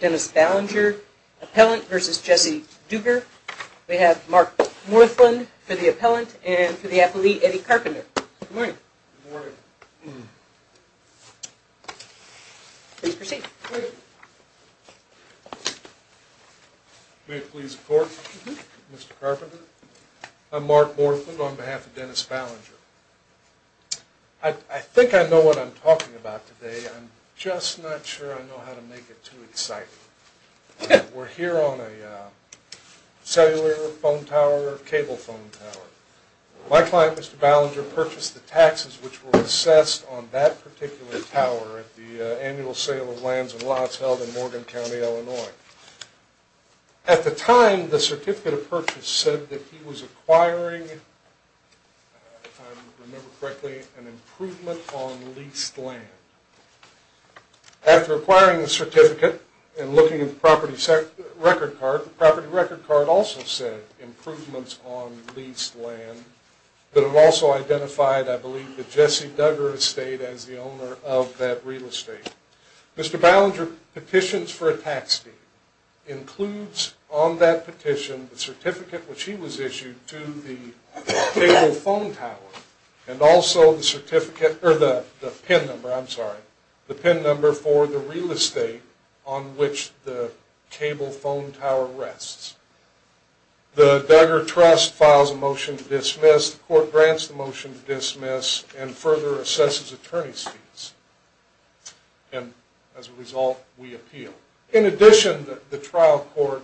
Dennis Ballinger, Appellant versus Jesse Duggar. We have Mark Morthland for the Appellant and for the Appellee, Eddie Carpenter. Good morning. Please proceed. May it please the Court, Mr. Carpenter. I'm Mark Morthland on behalf of Dennis Ballinger. I think I know what I'm talking about today. I'm just not sure I know how to make it too exciting. We're here on a cellular phone tower or cable phone tower. My client, Mr. Ballinger, purchased the taxes which were assessed on that particular tower at the annual sale of lands and lots held in Morgan County, Illinois. At the time, the certificate of purchase said that he was acquiring, if I remember correctly, an improvement on leased land. After acquiring the certificate and looking at the property record card, the property record card also said improvements on leased land, but it also identified, I believe, the Jesse Duggar estate as the owner of that real estate. Mr. Ballinger petitions for a tax fee, includes on that petition the certificate which he was issued to the cable phone tower and also the certificate, or the PIN number, I'm sorry, the PIN number for the real estate on which the cable phone tower rests. The Duggar Trust files a motion to dismiss, the court grants the motion to dismiss, and further assesses attorney's fees. And as a result, we appeal. In addition, the trial court,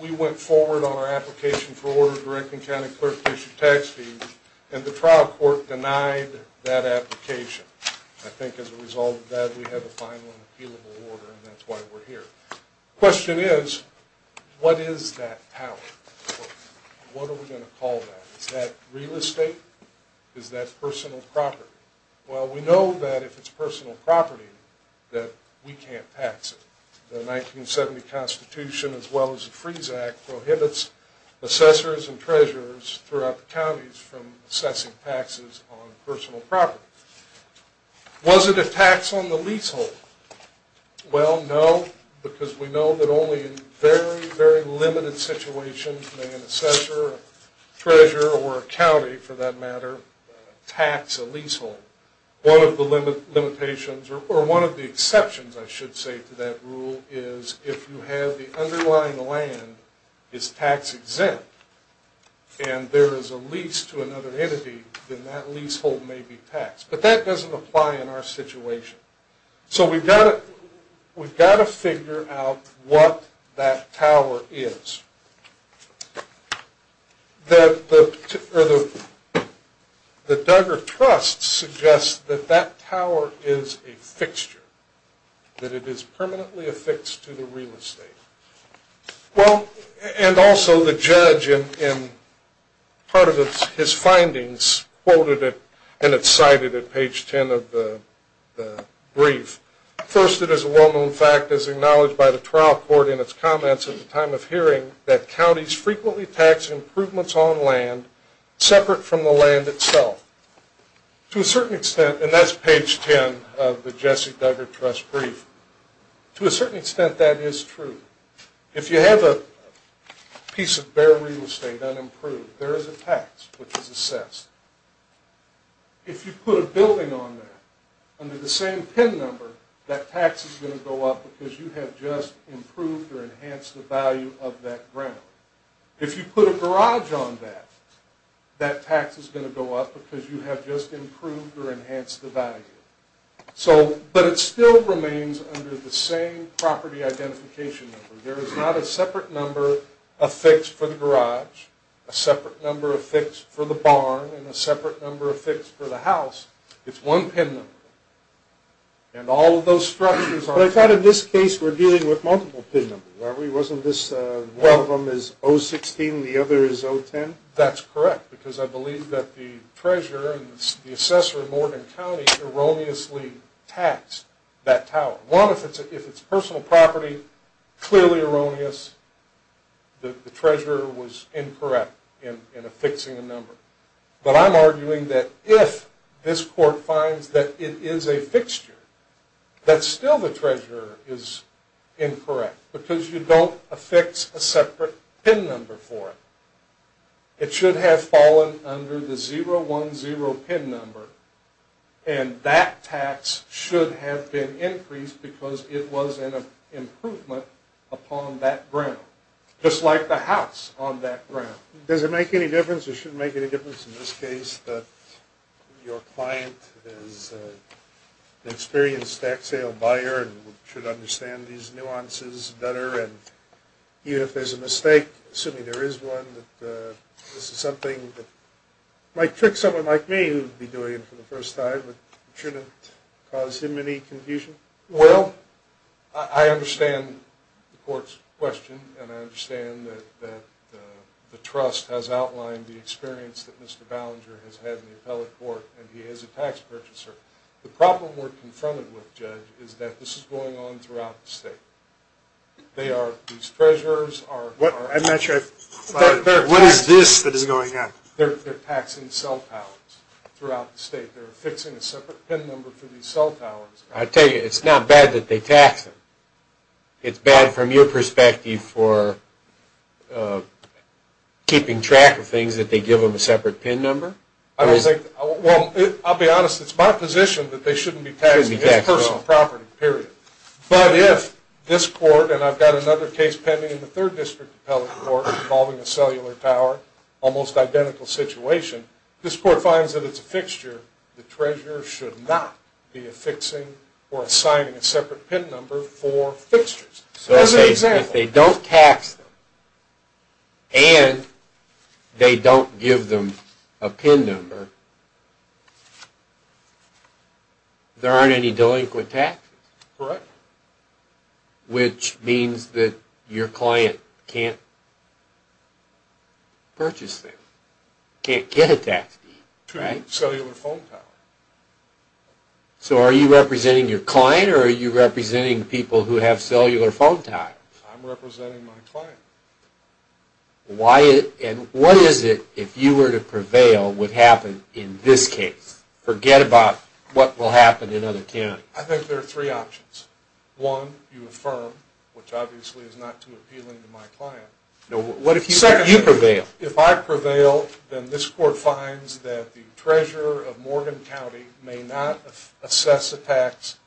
we went forward on our application for order to the Rankin County Clerk to issue tax fees, and the trial court denied that application. I think as a result of that, we have a final and appealable order, and that's why we're here. The question is, what is that power? What are we going to call that? Is that real estate? Is that personal property? Well, we know that if it's personal property, that we can't tax it. The 1970 Constitution, as well as the Freeze Act, prohibits assessors and treasurers throughout the counties from assessing taxes on personal property. Was it a tax on the leasehold? Well, no, because we know that only in very, very limited situations may an assessor, treasurer, or a county, for that matter, tax a leasehold. One of the limitations, or one of the exceptions, I should say, to that rule is if you have the underlying land is tax-exempt, and there is a lease to another entity, then that leasehold may be taxed. But that doesn't apply in our situation. So we've got to figure out what that power is. The Duggar Trust suggests that that power is a fixture, that it is permanently affixed to the real estate. Well, and also the judge, in part of his findings, quoted it and it's cited at page 10 of the brief. First, it is a well-known fact, as acknowledged by the trial court in its comments at the time of hearing, that counties frequently tax improvements on land separate from the land itself. To a certain extent, and that's page 10 of the Jesse Duggar Trust brief, to a certain extent that is true. If you have a piece of bare real estate, unimproved, there is a tax which is assessed. If you put a building on there, under the same PIN number, that tax is going to go up because you have just improved or enhanced the value of that ground. If you put a garage on that, that tax is going to go up because you have just improved or enhanced the value. But it still remains under the same property identification number. There is not a separate number affixed for the garage, a separate number affixed for the barn, and a separate number affixed for the house. It's one PIN number. And all of those structures are... But I thought in this case we're dealing with multiple PIN numbers, aren't we? One of them is 016, the other is 010? That's correct, because I believe that the treasurer and the assessor of Morgan County erroneously taxed that tower. One, if it's personal property, clearly erroneous. The treasurer was incorrect in affixing the number. But I'm arguing that if this court finds that it is a fixture, that still the treasurer is incorrect. Because you don't affix a separate PIN number for it. It should have fallen under the 010 PIN number, and that tax should have been increased because it was an improvement upon that ground. Just like the house on that ground. Does it make any difference, or should it make any difference in this case, that your client is an experienced tax sale buyer, and should understand these nuances better? And even if there's a mistake, assuming there is one, that this is something that might trick someone like me, who would be doing it for the first time, but shouldn't cause him any confusion? Well, I understand the court's question, and I understand that the trust has outlined the experience that Mr. Ballinger has had in the appellate court, and he is a tax purchaser. The problem we're confronted with, Judge, is that this is going on throughout the state. They are, these treasurers are... I'm not sure, what is this that is going on? They're taxing cell towers throughout the state. They're affixing a separate PIN number for these cell towers. I tell you, it's not bad that they tax them. It's bad, from your perspective, for keeping track of things, that they give them a separate PIN number? I don't think, well, I'll be honest, it's my position that they shouldn't be taxing his personal property, period. But if this court, and I've got another case pending in the third district appellate court, involving a cellular tower, almost identical situation, if this court finds that it's a fixture, the treasurer should not be affixing or assigning a separate PIN number for fixtures. As an example... So if they don't tax them, and they don't give them a PIN number, there aren't any delinquent taxes? Correct. Which means that your client can't purchase them, can't get a tax deed, right? To a cellular phone tower. So are you representing your client, or are you representing people who have cellular phone towers? I'm representing my client. Why, and what is it, if you were to prevail, would happen in this case? Forget about what will happen in other counties. I think there are three options. One, you affirm, which obviously is not too appealing to my client. Second, you prevail. If I prevail, then this court finds that the treasurer of Morgan County may not assess a tax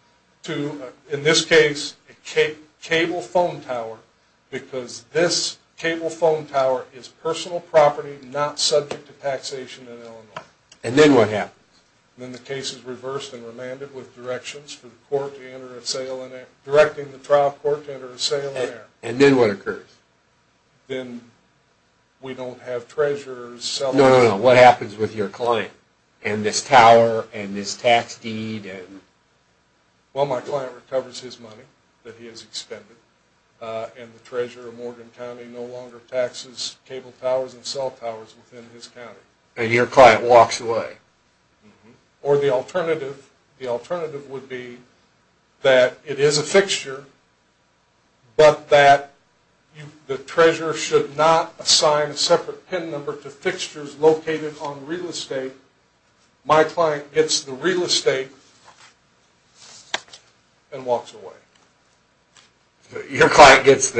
to, in this case, a cable phone tower, because this cable phone tower is personal property, not subject to taxation in Illinois. And then what happens? Then the case is reversed and remanded with directions for the court to enter a sale in... directing the trial court to enter a sale in error. And then what occurs? Then we don't have treasurer's cellular... No, no, no. What happens with your client? And this tower, and this tax deed, and... Well, my client recovers his money that he has expended, and the treasurer of Morgan County no longer taxes cable towers and cell towers within his county. And your client walks away. Or the alternative. The alternative would be that it is a fixture, but that the treasurer should not assign a separate PIN number to fixtures located on real estate. My client gets the real estate and walks away. Your client gets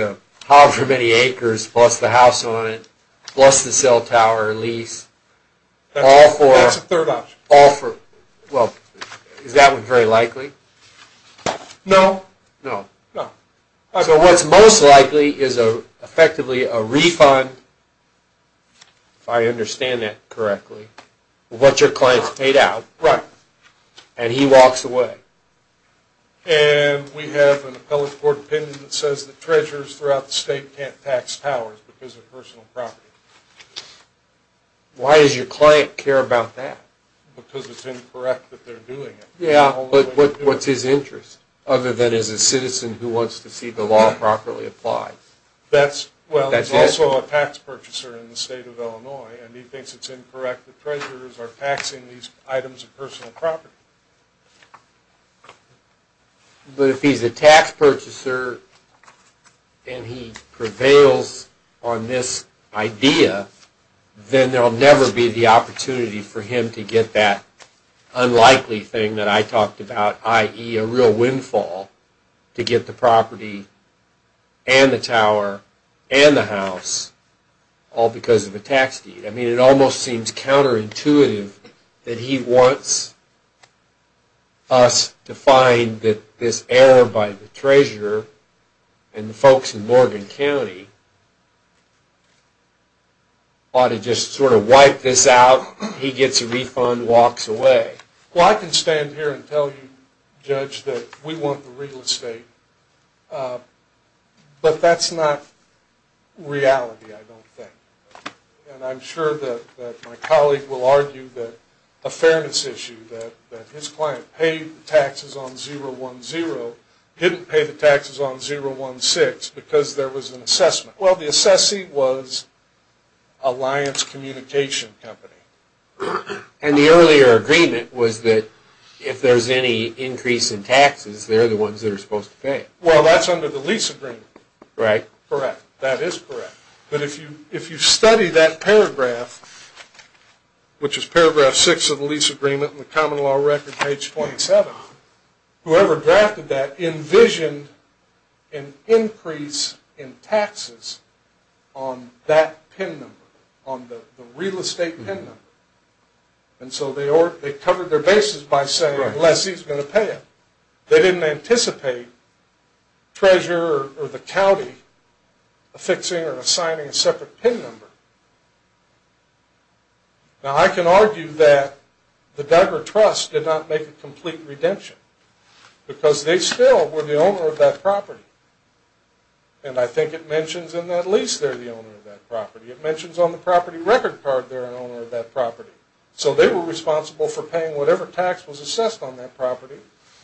however many acres, plus the house on it, plus the cell tower lease, all for... That's a third option. All for... well, is that one very likely? No. No. No. So what's most likely is effectively a refund, if I understand that correctly, of what your client has paid out, and he walks away. And we have an appellate court opinion that says that treasurers throughout the state can't tax towers because of personal property. Why does your client care about that? Because it's incorrect that they're doing it. Yeah, but what's his interest? Other than as a citizen who wants to see the law properly applied. That's... well, he's also a tax purchaser in the state of Illinois, and he thinks it's incorrect that treasurers are taxing these items of personal property. But if he's a tax purchaser and he prevails on this idea, then there will never be the opportunity for him to get that unlikely thing that I talked about, i.e. a real windfall, to get the property and the tower and the house, all because of a tax deed. I mean, it almost seems counterintuitive that he wants us to find that this error by the treasurer and the folks in Morgan County ought to just sort of wipe this out, he gets a refund, walks away. Well, I can stand here and tell you, Judge, that we want the real estate, but that's not reality, I don't think. And I'm sure that my colleague will argue that a fairness issue, that his client paid the taxes on 010, didn't pay the taxes on 016, because there was an assessment. Well, the assessing was Alliance Communication Company. And the earlier agreement was that if there's any increase in taxes, they're the ones that are supposed to pay it. Well, that's under the lease agreement. Right. Correct, that is correct. But if you study that paragraph, which is paragraph 6 of the lease agreement in the Common Law Record, page 27, whoever drafted that envisioned an increase in taxes on that PIN number, on the real estate PIN number. And so they covered their bases by saying, unless he's going to pay it. They didn't anticipate treasurer or the county affixing or assigning a separate PIN number. Now, I can argue that the Duggar Trust did not make a complete redemption, because they still were the owner of that property. And I think it mentions in that lease they're the owner of that property. It mentions on the property record card they're an owner of that property. So they were responsible for paying whatever tax was assessed on that property,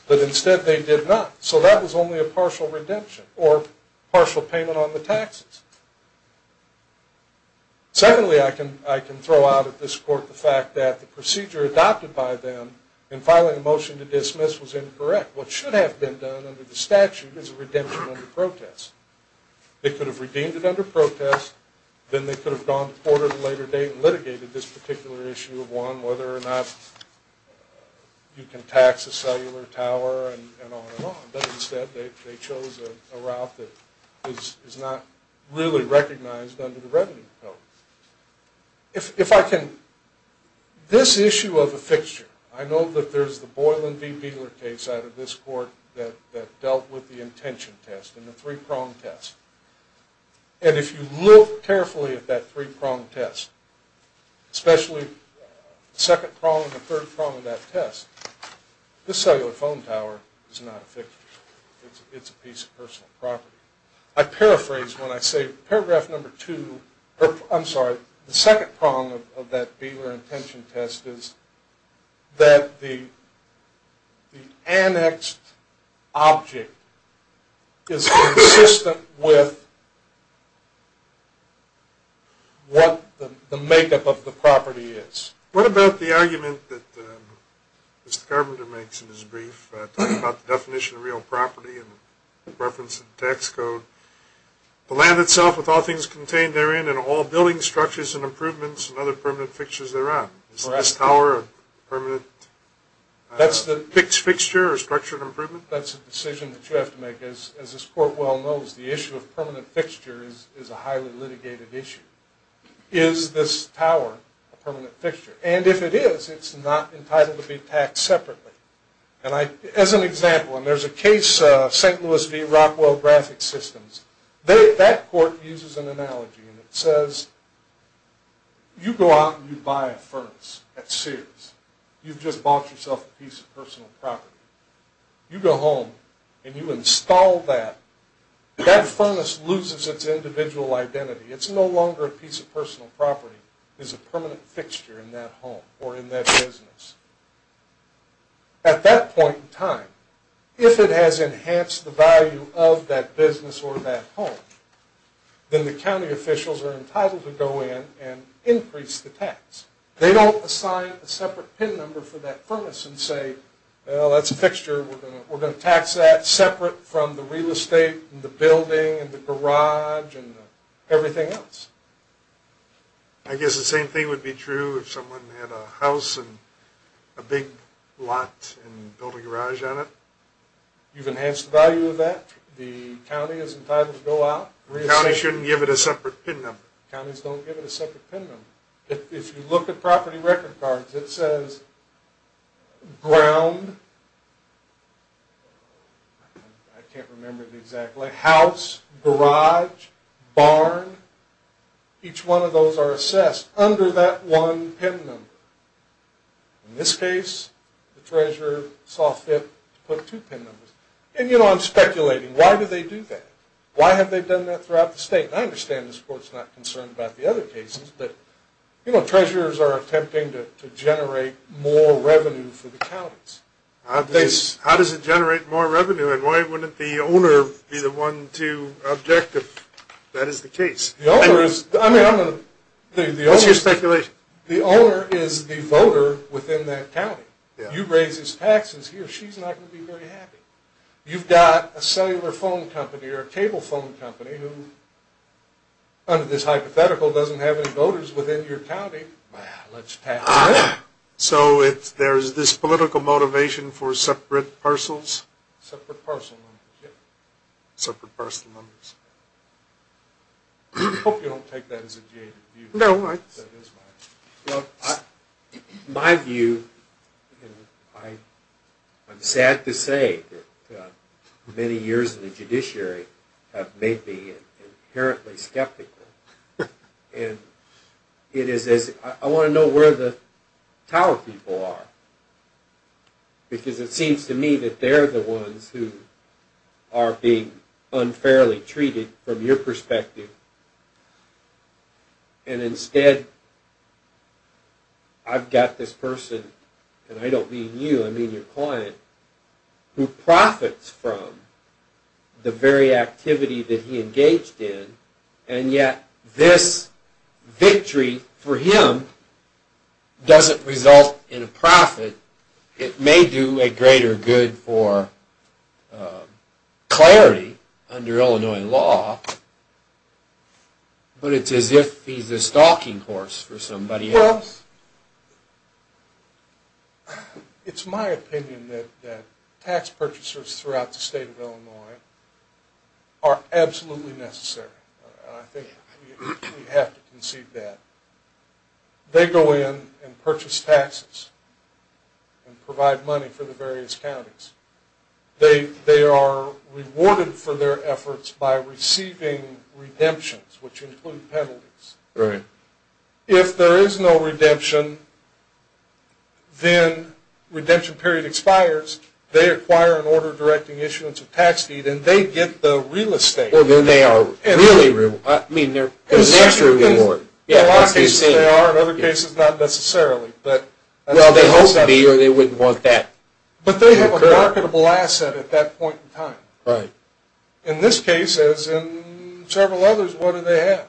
but instead they did not. So that was only a partial redemption or partial payment on the taxes. Secondly, I can throw out at this court the fact that the procedure adopted by them in filing a motion to dismiss was incorrect. What should have been done under the statute is a redemption under protest. They could have redeemed it under protest. Then they could have gone to court at a later date and litigated this particular issue of whether or not you can tax a cellular tower and on and on. But instead they chose a route that is not really recognized under the revenue code. This issue of a fixture, I know that there's the Boylan v. Beeler case out of this court that dealt with the intention test and the three-prong test. And if you look carefully at that three-prong test, especially the second prong and the third prong of that test, this cellular phone tower is not a fixture. It's a piece of personal property. I paraphrase when I say paragraph number two, I'm sorry, the second prong of that Beeler intention test is that the annexed object is consistent with what the makeup of the property is. What about the argument that Mr. Carpenter makes in his brief about the definition of real property and the reference in the tax code, the land itself with all things contained therein and all building structures and improvements and other permanent fixtures thereon? Is this tower a permanent fixed fixture or structured improvement? That's a decision that you have to make. As this court well knows, the issue of permanent fixtures is a highly litigated issue. Is this tower a permanent fixture? And if it is, it's not entitled to be taxed separately. As an example, and there's a case, St. Louis v. Rockwell Graphic Systems, that court uses an analogy and it says, you go out and you buy a furnace at Sears. You've just bought yourself a piece of personal property. You go home and you install that. That furnace loses its individual identity. It's no longer a piece of personal property. It's a permanent fixture in that home or in that business. At that point in time, if it has enhanced the value of that business or that home, then the county officials are entitled to go in and increase the tax. They don't assign a separate pin number for that furnace and say, well, that's a fixture. We're going to tax that separate from the real estate and the building and the garage and everything else. I guess the same thing would be true if someone had a house and a big lot and built a garage on it. You've enhanced the value of that. The county is entitled to go out. The county shouldn't give it a separate pin number. Counties don't give it a separate pin number. If you look at property record cards, it says ground, I can't remember it exactly, house, garage, barn. Each one of those are assessed under that one pin number. In this case, the treasurer saw fit to put two pin numbers. And, you know, I'm speculating. Why do they do that? Why have they done that throughout the state? I understand this court's not concerned about the other cases, but, you know, treasurers are attempting to generate more revenue for the counties. How does it generate more revenue, and why wouldn't the owner be the one to object if that is the case? The owner is the voter within that county. You raise his taxes, he or she's not going to be very happy. You've got a cellular phone company or a cable phone company who, under this hypothetical, doesn't have any voters within your county. Well, let's tax them. So there's this political motivation for separate parcels? Separate parcel numbers, yeah. Separate parcel numbers. I hope you don't take that as a jaded view. No, I... My view, and I'm sad to say that many years in the judiciary have made me inherently skeptical. I want to know where the tower people are, because it seems to me that they're the ones who are being unfairly treated from your perspective. And instead, I've got this person, and I don't mean you, I mean your client, who profits from the very activity that he engaged in, and yet this victory for him doesn't result in a profit. It may do a greater good for clarity under Illinois law, but it's as if he's a stalking horse for somebody else. It's my opinion that tax purchasers throughout the state of Illinois are absolutely necessary. I think we have to concede that. They go in and purchase taxes and provide money for the various counties. They are rewarded for their efforts by receiving redemptions, which include penalties. Right. If there is no redemption, then redemption period expires, they acquire an order directing issuance of tax deed, and they get the real estate. Well, then they are really rewarded. I mean, there's an extra reward. In a lot of cases they are, in other cases not necessarily. Well, they hope to be or they wouldn't want that. But they have a marketable asset at that point in time. Right. In this case, as in several others, what do they have?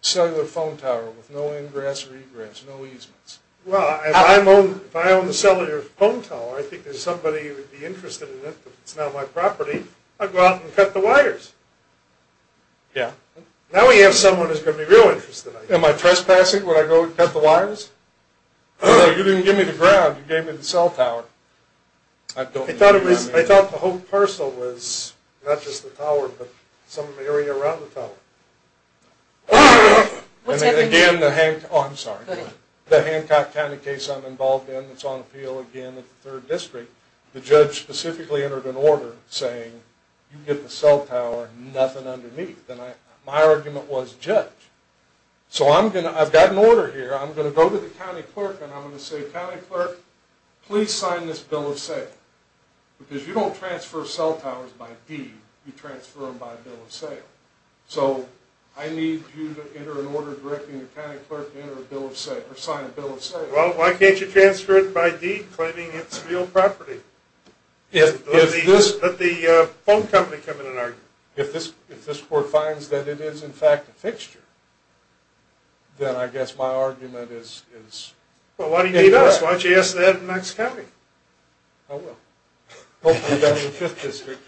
Cellular phone tower with no ingress or egress, no easements. Well, if I own the cellular phone tower, I think there's somebody who would be interested in it, but it's not my property, I'd go out and cut the wires. Yeah. Now we have someone who's going to be real interested. Am I trespassing when I go cut the wires? No, you didn't give me the ground, you gave me the cell tower. I thought the whole parcel was not just the tower, but some of the area around the tower. What's happening here? Oh, I'm sorry. The Hancock County case I'm involved in, it's on appeal again at the 3rd District. The judge specifically entered an order saying, you get the cell tower, nothing underneath. My argument was judge. So I've got an order here, I'm going to go to the county clerk and I'm going to say, county clerk, please sign this bill of sale. Because you don't transfer cell towers by deed, you transfer them by bill of sale. So I need you to enter an order directing the county clerk to sign a bill of sale. Well, why can't you transfer it by deed, claiming it's real property? Let the phone company come in and argue. If this court finds that it is in fact a fixture, then I guess my argument is... Well, why do you need us? Why don't you ask the head of Knox County? I will. Hopefully down in the 5th District.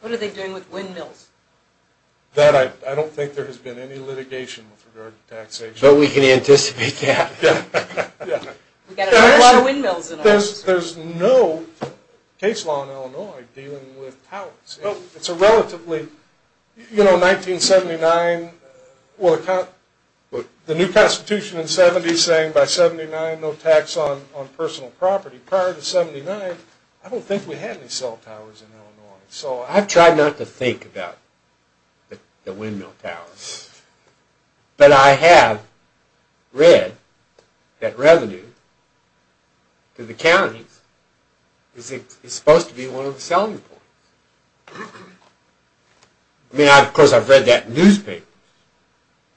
What are they doing with windmills? That I don't think there has been any litigation with regard to taxation. But we can anticipate that. We've got a whole lot of windmills in our house. There's no case law in Illinois dealing with towers. It's a relatively, you know, 1979, the new Constitution in the 70s saying by 79, no tax on personal property. Prior to 79, I don't think we had any cell towers in Illinois. I've tried not to think about the windmill towers. But I have read that revenue to the counties is supposed to be one of the selling points. I mean, of course, I've read that in newspapers.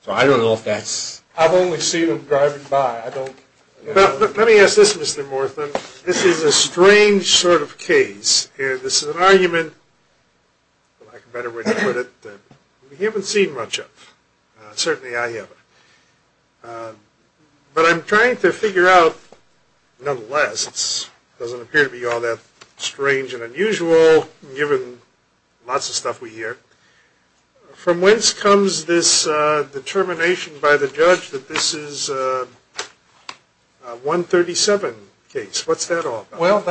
So I don't know if that's... I've only seen them driving by. I don't... Let me ask this, Mr. Morthen. This is a strange sort of case. This is an argument, for lack of a better way to put it, that we haven't seen much of. Certainly I haven't. But I'm trying to figure out, nonetheless, this doesn't appear to be all that strange and unusual, given lots of stuff we hear. From whence comes this determination by the judge that this is a 137 case? What's that all about? Well,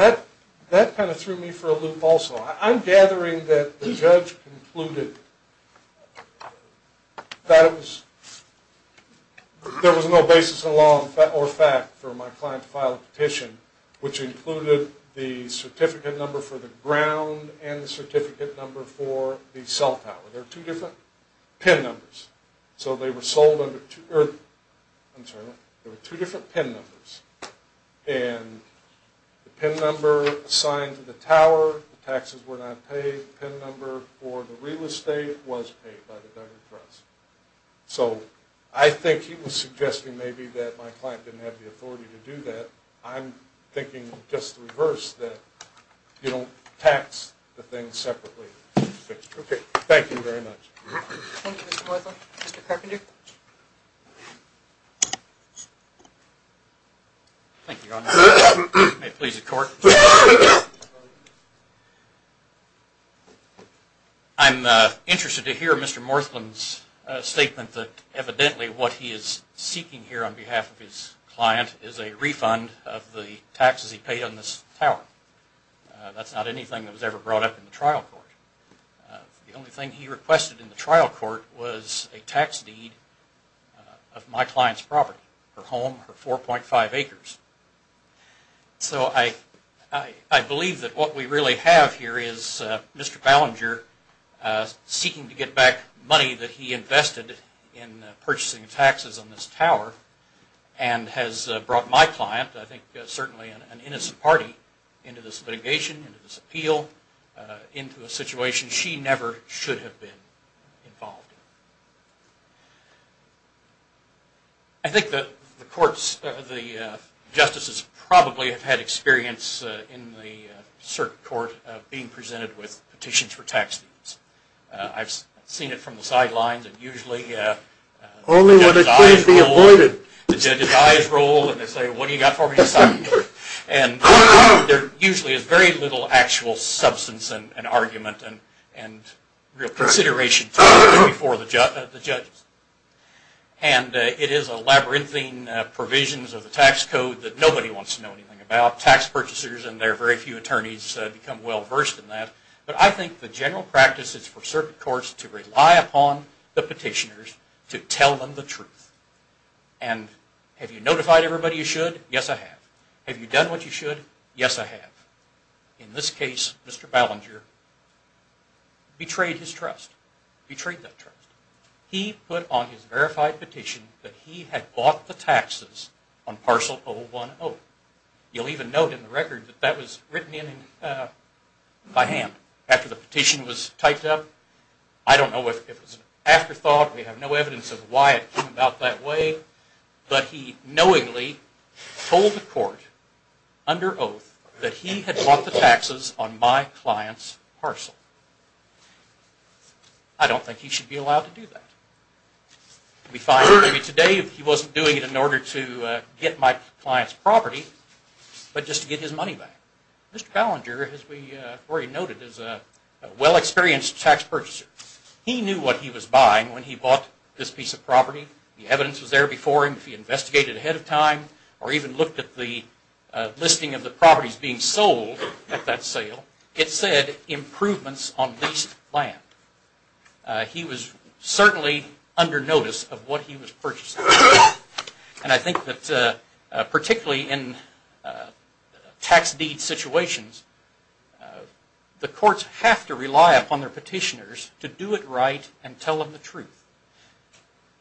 that kind of threw me for a loop also. I'm gathering that the judge concluded that it was... There was no basis in law or fact for my client to file a petition which included the certificate number for the ground and the certificate number for the cell tower. They're two different PIN numbers. So they were sold under two... I'm sorry. They were two different PIN numbers. And the PIN number assigned to the tower, the taxes were not paid. The PIN number for the real estate was paid by the government trust. So I think he was suggesting maybe that my client didn't have the authority to do that. I'm thinking just the reverse, that you don't tax the thing separately. Okay, thank you very much. Thank you, Mr. Morthen. Mr. Carpenter? Thank you, Your Honor. May it please the court. I'm interested to hear Mr. Morthen's statement that evidently what he is seeking here on behalf of his client is a refund of the taxes he paid on this tower. That's not anything that was ever brought up in the trial court. The only thing he requested in the trial court was a tax deed of my client's property, her home, her 4.5 acres. So I believe that what we really have here is Mr. Ballinger seeking to get back money that he invested in purchasing taxes on this tower and has brought my client, I think certainly an innocent party, into this litigation, into this appeal, into a situation she never should have been involved in. I think the courts, the justices, probably have had experience in the circuit court of being presented with petitions for tax deeds. I've seen it from the sidelines and usually the judge's eyes roll and they say, what do you got for me? And there usually is very little actual substance and argument and real consideration before the judges. And it is a labyrinthine provisions of the tax code that nobody wants to know anything about. Tax purchasers and their very few attorneys become well versed in that. But I think the general practice is for circuit courts to rely upon the petitioners to tell them the truth. And have you notified everybody you should? Yes, I have. Have you done what you should? Yes, I have. In this case, Mr. Ballinger betrayed his trust. Betrayed that trust. He put on his verified petition that he had bought the taxes on parcel 010. You'll even note in the record that that was written in by hand after the petition was typed up. I don't know if it was an afterthought. We have no evidence of why it came about that way. But he knowingly told the court under oath that he had bought the taxes on my client's parcel. I don't think he should be allowed to do that. It would be fine maybe today if he wasn't doing it in order to get my client's property, but just to get his money back. Mr. Ballinger, as we already noted, is a well-experienced tax purchaser. He knew what he was buying when he bought this piece of property. The evidence was there before him if he investigated ahead of time or even looked at the listing of the properties being sold at that sale. It said improvements on leased land. He was certainly under notice of what he was purchasing. And I think that particularly in tax deed situations, the courts have to rely upon their petitioners to do it right and tell them the truth.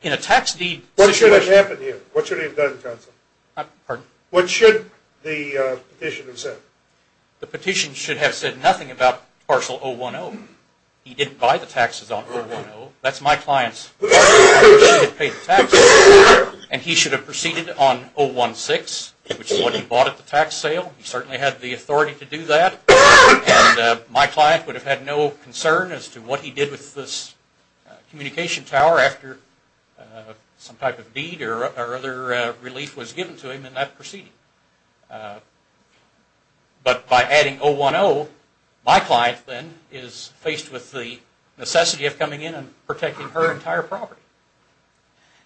In a tax deed situation... What should have happened here? What should he have done, counsel? Pardon? What should the petitioner have said? The petitioner should have said nothing about parcel 010. He didn't buy the taxes on 010. That's my client's. He should have paid the taxes. And he should have proceeded on 016, which is what he bought at the tax sale. He certainly had the authority to do that. My client would have had no concern as to what he did with this communication tower after some type of deed or other relief was given to him, and that proceeded. But by adding 010, my client then is faced with the necessity of coming in and protecting her entire property.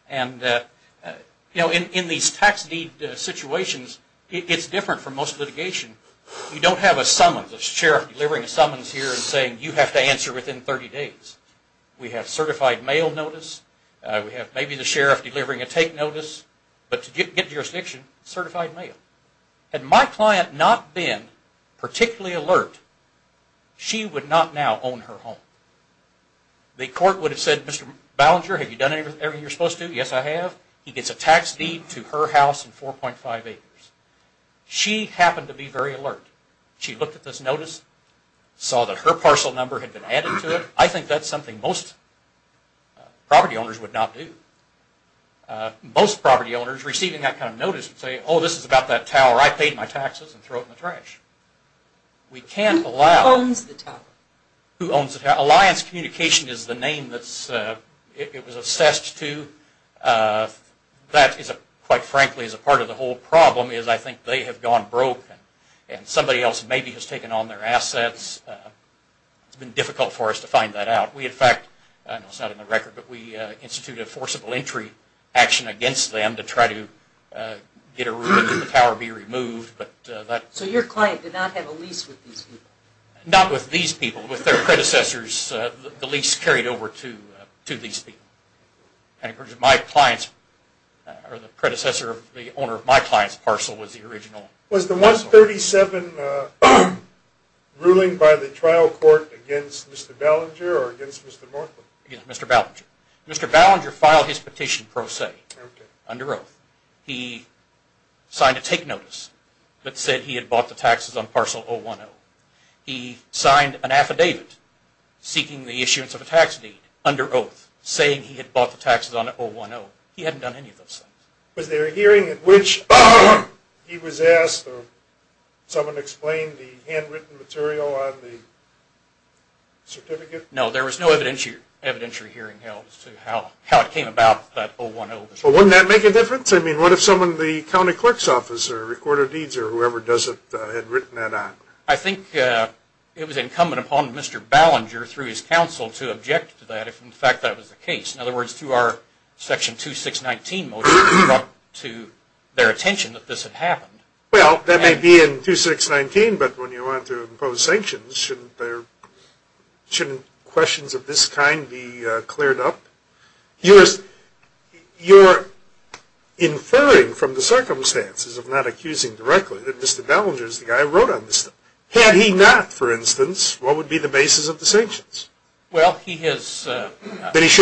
In these tax deed situations, it's different from most litigation. You don't have a summons, a sheriff delivering a summons here and saying you have to answer within 30 days. We have certified mail notice. We have maybe the sheriff delivering a take notice. But to get jurisdiction, certified mail. Had my client not been particularly alert, she would not now own her home. The court would have said, Mr. Ballinger, have you done everything you're supposed to? Yes, I have. He gets a tax deed to her house and 4.5 acres. She happened to be very alert. She looked at this notice, saw that her parcel number had been added to it. I think that's something most property owners would not do. Most property owners receiving that kind of notice would say, oh, this is about that tower. I paid my taxes and threw it in the trash. Who owns the tower? Who owns the tower? Alliance Communication is the name it was assessed to. That, quite frankly, is a part of the whole problem. I think they have gone broke. Somebody else maybe has taken on their assets. It's been difficult for us to find that out. We, in fact, it's not in the record, but we instituted a forcible entry action against them to try to get a roof and have the tower be removed. So your client did not have a lease with these people? Not with these people. With their predecessors, the lease carried over to these people. The predecessor of the owner of my client's parcel was the original. Was the 137 ruling by the trial court against Mr. Ballinger or against Mr. Northwood? Against Mr. Ballinger. Mr. Ballinger filed his petition pro se under oath. He signed a take notice that said he had bought the taxes on parcel 010. He signed an affidavit seeking the issuance of a tax deed under oath saying he had bought the taxes on 010. He hadn't done any of those things. Was there a hearing at which he was asked or someone explained the handwritten material on the certificate? No, there was no evidentiary hearing held as to how it came about, that 010. Well, wouldn't that make a difference? I mean, what if someone, the county clerk's office or recorder of deeds or whoever does it had written that out? I think it was incumbent upon Mr. Ballinger through his counsel to object to that if in fact that was the case. In other words, through our section 2619 motion, it came up to their attention that this had happened. Well, that may be in 2619, but when you want to impose sanctions, shouldn't questions of this kind be cleared up? You're inferring from the circumstances, if not accusing directly, that Mr. Ballinger is the guy who wrote on this stuff. That he should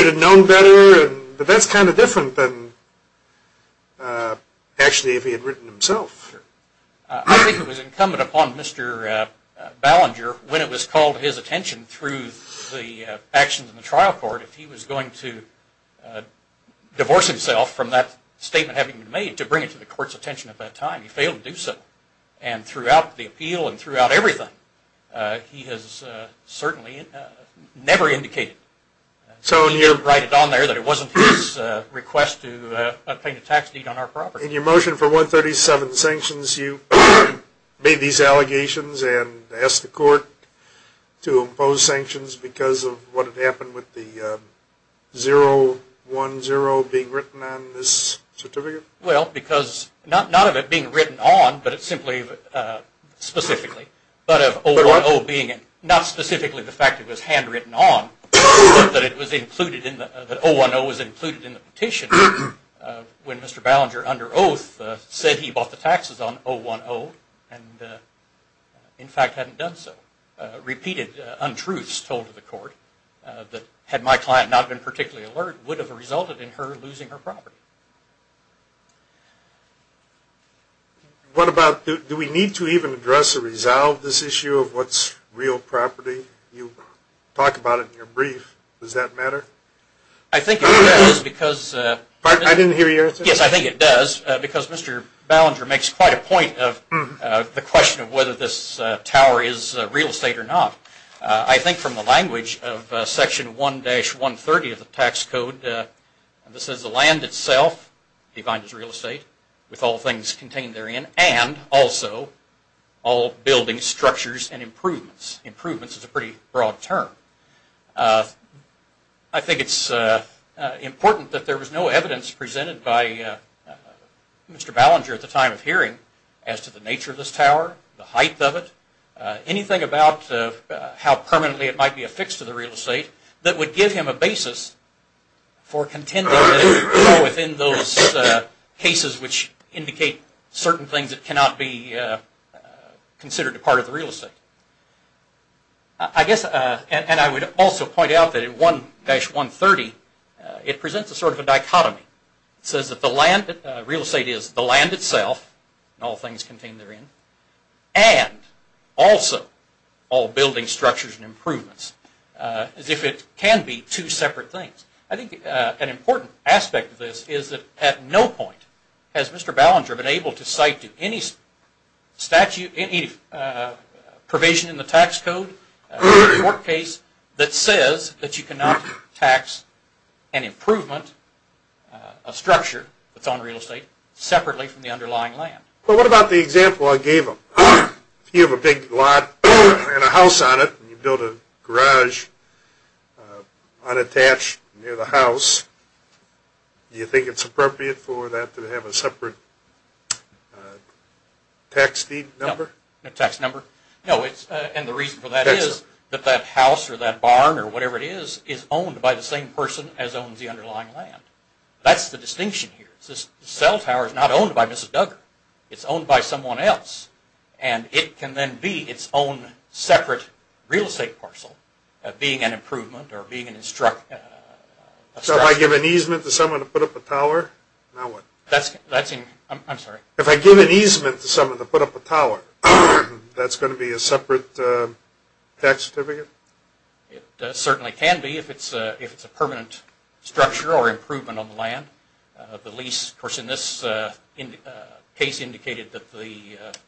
have known better? But that's kind of different than actually if he had written himself. I think it was incumbent upon Mr. Ballinger, when it was called to his attention through the actions in the trial court, if he was going to divorce himself from that statement having been made to bring it to the court's attention at that time, he failed to do so. And throughout the appeal and throughout everything, he has certainly never indicated, when you write it on there, that it wasn't his request to obtain a tax deed on our property. In your motion for 137 sanctions, you made these allegations and asked the court to impose sanctions because of what had happened with the 010 being written on this certificate? Well, because not of it being written on, but simply specifically, but of 010 being, not specifically the fact that it was handwritten on, but that 010 was included in the petition, when Mr. Ballinger, under oath, said he bought the taxes on 010, and in fact hadn't done so. Repeated untruths told to the court, that had my client not been particularly alert, would have resulted in her losing her property. Do we need to even address or resolve this issue of what's real property? You talk about it in your brief. Does that matter? I think it does because Mr. Ballinger makes quite a point of the question of whether this tower is real estate or not. I think from the language of Section 1-130 of the tax code, this is the land itself defined as real estate, with all things contained therein, and also all buildings, structures, and improvements. Improvements is a pretty broad term. I think it's important that there was no evidence presented by Mr. Ballinger at the time of hearing as to the nature of this tower, the height of it, anything about how permanently it might be affixed to the real estate that would give him a basis for contending within those cases which indicate certain things that cannot be considered a part of the real estate. I guess, and I would also point out that in 1-130, it presents a sort of a dichotomy. It says that the land, real estate is the land itself, and all things contained therein, and also all buildings, structures, and improvements. As if it can be two separate things. I think an important aspect of this is that at no point has Mr. Ballinger been able to cite any provision in the tax code or court case that says that you cannot tax an improvement, a structure that's on real estate, separately from the underlying land. Well, what about the example I gave him? If you have a big lot and a house on it, and you build a garage unattached near the house, do you think it's appropriate for that to have a separate tax deed number? No, no tax number. And the reason for that is that that house or that barn or whatever it is is owned by the same person as owns the underlying land. That's the distinction here. The cell tower is not owned by Mrs. Duggar. It's owned by someone else, and it can then be its own separate real estate parcel being an improvement or being an instruction. So if I give an easement to someone to put up a tower, now what? I'm sorry. If I give an easement to someone to put up a tower, that's going to be a separate tax certificate? It certainly can be if it's a permanent structure or improvement on the land. The lease, of course, in this case, indicated that the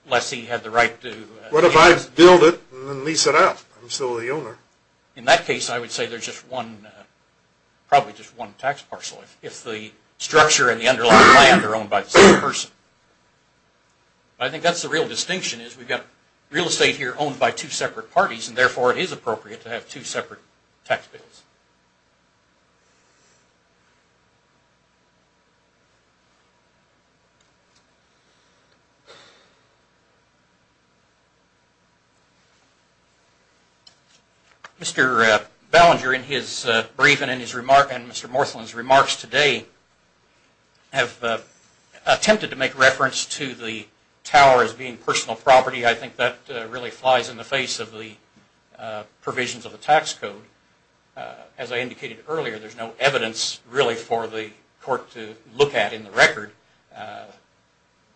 lessee had the right to lease. What if I build it and then lease it out? I'm still the owner. In that case, I would say there's probably just one tax parcel if the structure and the underlying land are owned by the same person. I think that's the real distinction, is we've got real estate here owned by two separate parties, and therefore it is appropriate to have two separate tax bills. Mr. Ballinger in his briefing and Mr. Morthland's remarks today have attempted to make reference to the tower as being personal property. I think that really flies in the face of the provisions of the tax code. As I indicated earlier, there's no evidence really for the court to look at in the record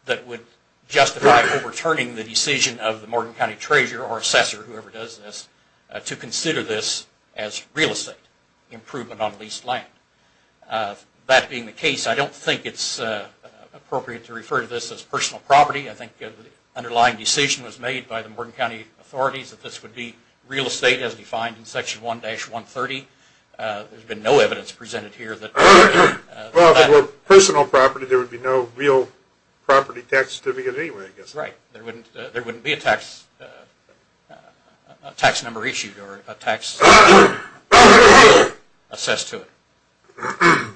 that would justify overturning the decision of the Morgan County Treasurer or Assessor, whoever does this, to consider this as real estate improvement on leased land. That being the case, I don't think it's appropriate to refer to this as personal property. I think the underlying decision was made by the Morgan County authorities that this would be real estate as defined in Section 1-130. There's been no evidence presented here that... Well, if it were personal property, there would be no real property tax certificate anyway, I guess. Right. There wouldn't be a tax number issued or a tax bill assessed to it.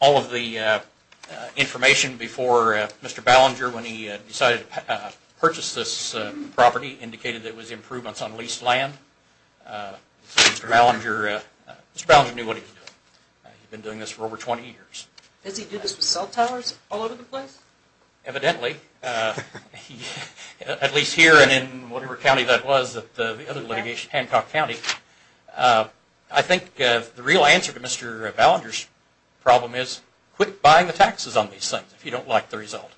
All of the information before Mr. Ballinger, when he decided to purchase this property, indicated that it was improvements on leased land. Mr. Ballinger knew what he was doing. He'd been doing this for over 20 years. Does he do this with cell towers all over the place? Evidently. At least here and in whatever county that was, the other litigation, Hancock County. I think the real answer to Mr. Ballinger's problem is quit buying the taxes on these things if you don't like the result.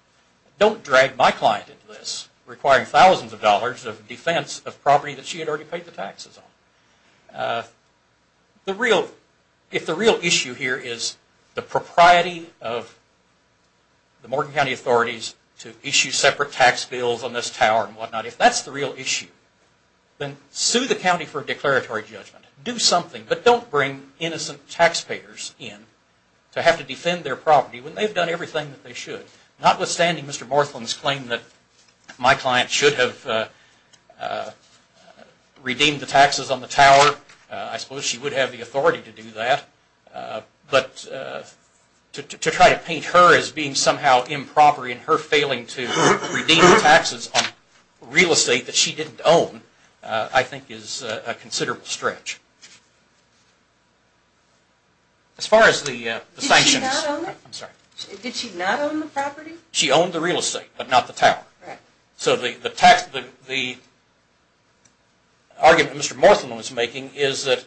Don't drag my client into this, requiring thousands of dollars of defense of property that she had already paid the taxes on. If the real issue here is the propriety of the Morgan County authorities to issue separate tax bills on this tower and whatnot, if that's the real issue, then sue the county for a declaratory judgment. Do something, but don't bring innocent taxpayers in to have to defend their property when they've done everything that they should. Notwithstanding Mr. Morthland's claim that my client should have redeemed the taxes on the tower, I suppose she would have the authority to do that, but to try to paint her as being somehow improper in her failing to redeem the taxes on real estate that she didn't own, I think is a considerable stretch. As far as the sanctions... Did she not own it? I'm sorry. Did she not own the property? She owned the real estate, but not the tower. Right. So the argument Mr. Morthland was making is that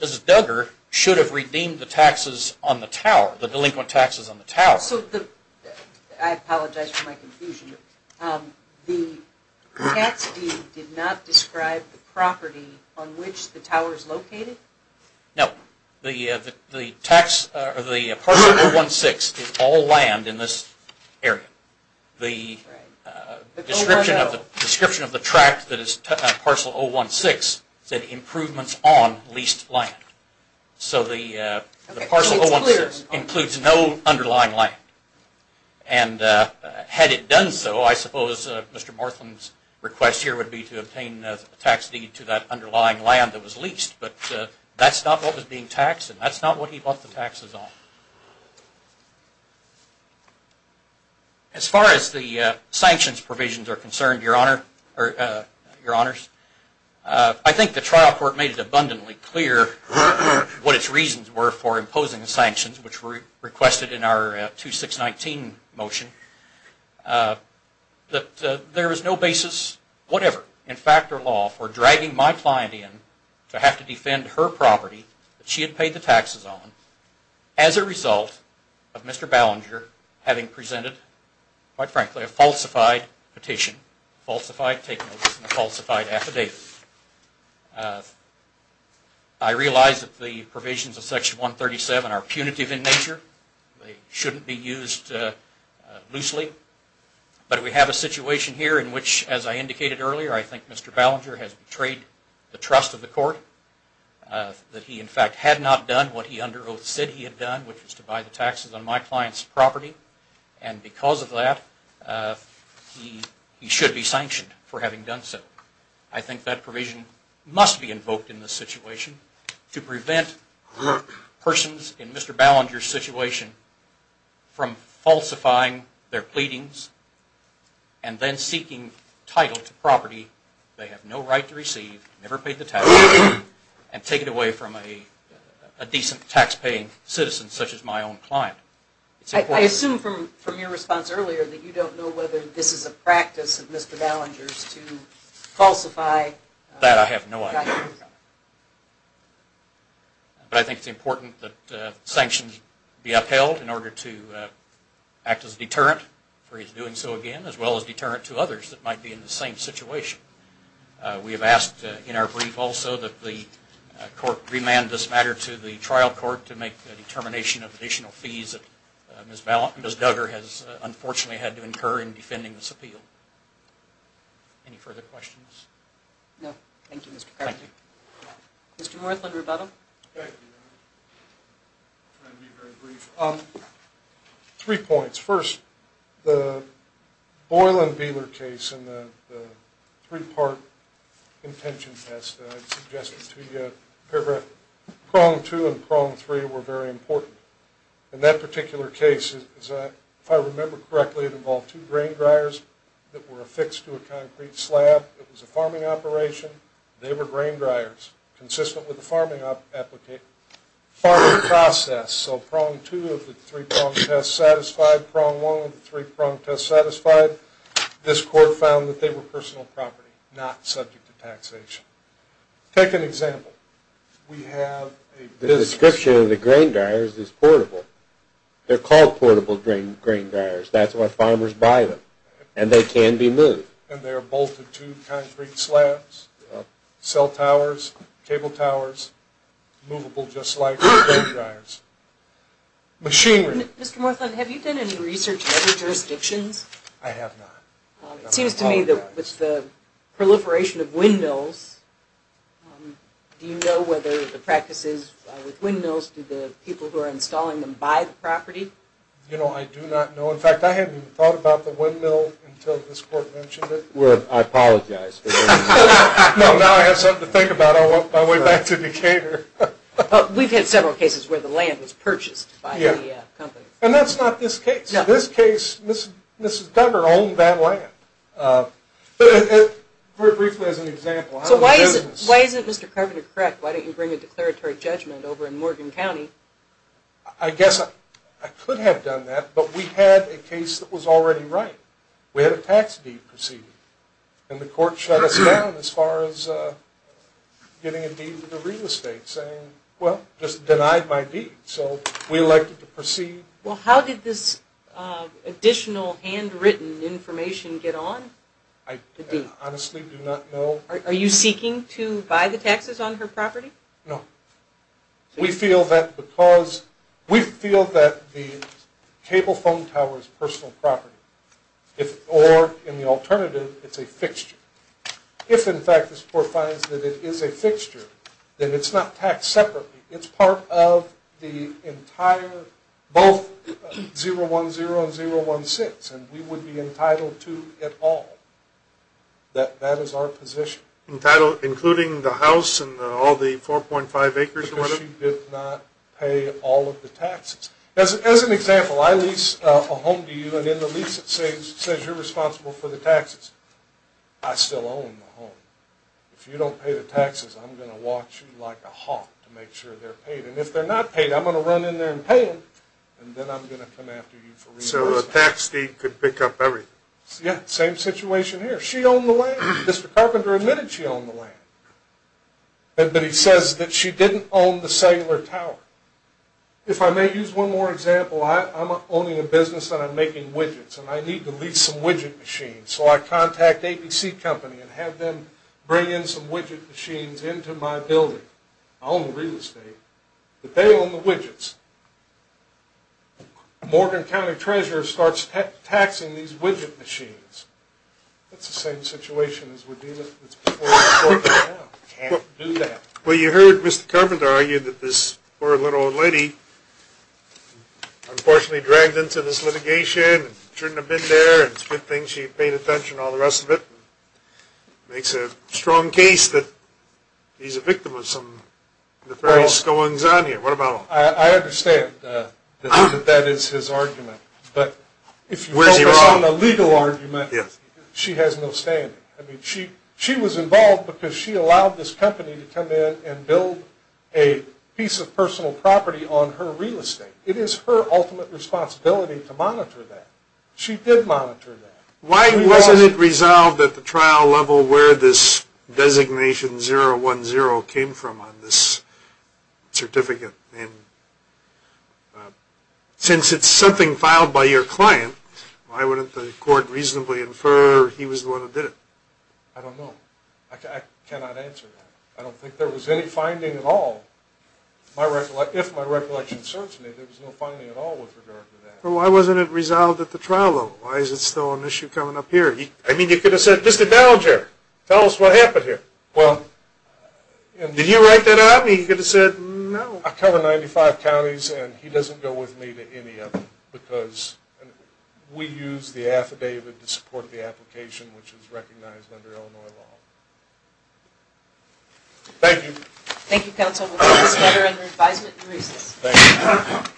Mrs. Duggar should have redeemed the taxes on the tower, the delinquent taxes on the tower. I apologize for my confusion. The tax deed did not describe the property on which the tower is located? No. The parcel 016 is all land in this area. The description of the tract that is parcel 016 said improvements on leased land. So the parcel 016 includes no underlying land. And had it done so, I suppose Mr. Morthland's request here would be to obtain a tax deed to that underlying land that was leased, but that's not what was being taxed and that's not what he bought the taxes on. As far as the sanctions provisions are concerned, Your Honors, I think the trial court made it abundantly clear what its reasons were for imposing the sanctions, which were requested in our 2619 motion, that there is no basis whatever in fact or law for dragging my client in to have to defend her property that she had paid the taxes on as a result of Mr. Ballinger having presented, quite frankly, a falsified petition, falsified take notice and falsified affidavit. I realize that the provisions of Section 137 are punitive in nature, they shouldn't be used loosely, but we have a situation here in which, as I indicated earlier, I think Mr. Ballinger has betrayed the trust of the court, that he in fact had not done what he under oath said he had done, which was to buy the taxes on my client's property, and because of that he should be sanctioned for having done so. I think that provision must be invoked in this situation to prevent persons in Mr. Ballinger's situation from falsifying their pleadings and then seeking title to property they have no right to receive, never paid the taxes, and take it away from a decent tax-paying citizen such as my own client. I assume from your response earlier that you don't know That I have no idea. But I think it's important that sanctions be upheld in order to act as a deterrent for his doing so again, as well as deterrent to others that might be in the same situation. We have asked in our brief also that the court remand this matter to the trial court to make the determination of additional fees that Ms. Duggar has unfortunately had to incur in defending this appeal. Any further questions? No. Thank you, Mr. Perkins. Mr. Northland, rebuttal. Thank you. I'll try to be very brief. Three points. First, the Boyle and Beeler case and the three-part intention test that I suggested to you, prong two and prong three were very important. In that particular case, if I remember correctly, it involved two grain dryers that were affixed to a concrete slab. It was a farming operation. They were grain dryers consistent with the farming process. So prong two of the three prong tests satisfied, prong one of the three prong tests satisfied. This court found that they were personal property, not subject to taxation. Take an example. The description of the grain dryers is portable. They're called portable grain dryers. That's where farmers buy them, and they can be moved. And they are bolted to concrete slabs, cell towers, cable towers, movable just like grain dryers. Machinery. Mr. Northland, have you done any research in other jurisdictions? I have not. It seems to me that with the proliferation of windmills, do you know whether the practices with windmills, do the people who are installing them buy the property? You know, I do not know. In fact, I hadn't thought about the windmill until this court mentioned it. I apologize. No, now I have something to think about on my way back to Decatur. We've had several cases where the land was purchased by the company. And that's not this case. In this case, Mrs. Duggar owned that land. Very briefly as an example. So why isn't Mr. Carpenter correct? Why didn't you bring a declaratory judgment over in Morgan County? I guess I could have done that, but we had a case that was already right. We had a tax deed proceeded. And the court shut us down as far as getting a deed to the real estate, saying, well, just denied my deed. So we elected to proceed. Well, how did this additional handwritten information get on? I honestly do not know. Are you seeking to buy the taxes on her property? No. We feel that the cable phone tower is personal property. Or in the alternative, it's a fixture. If, in fact, this court finds that it is a fixture, then it's not taxed separately. It's part of the entire both 010 and 016. And we would be entitled to it all. That is our position. Including the house and all the 4.5 acres and whatever? Because she did not pay all of the taxes. As an example, I lease a home to you, and in the lease it says you're responsible for the taxes. I still own the home. If you don't pay the taxes, I'm going to watch you like a hawk to make sure they're paid. And if they're not paid, I'm going to run in there and pay them, and then I'm going to come after you for reimbursement. So a tax deed could pick up everything. Yeah, same situation here. She owned the land. Mr. Carpenter admitted she owned the land. But he says that she didn't own the cellular tower. If I may use one more example, I'm owning a business and I'm making widgets, and I need to lease some widget machines. So I contact ABC Company and have them bring in some widget machines into my building. I own the real estate, but they own the widgets. Morgan County Treasurer starts taxing these widget machines. That's the same situation as we're dealing with before the court right now. Can't do that. Well, you heard Mr. Carpenter argue that this poor little old lady unfortunately dragged into this litigation and shouldn't have been there, and it's a good thing she paid attention to all the rest of it. Makes a strong case that he's a victim of some nefarious goings-on here. What about him? I understand that that is his argument. But if you focus on the legal argument, she has no standing. She was involved because she allowed this company to come in and build a piece of personal property on her real estate. It is her ultimate responsibility to monitor that. She did monitor that. Why wasn't it resolved at the trial level where this designation 010 came from on this certificate? And since it's something filed by your client, why wouldn't the court reasonably infer he was the one who did it? I don't know. I cannot answer that. I don't think there was any finding at all. If my recollection serves me, there was no finding at all with regard to that. Well, why wasn't it resolved at the trial level? Why is it still an issue coming up here? I mean, you could have said, Mr. Dallager, tell us what happened here. Well, did you write that out? You could have said no. I cover 95 counties, and he doesn't go with me to any of them because we use the affidavit to support the application, which is recognized under Illinois law. Thank you. Thank you, counsel. We'll take this matter under advisement and recess. Thank you.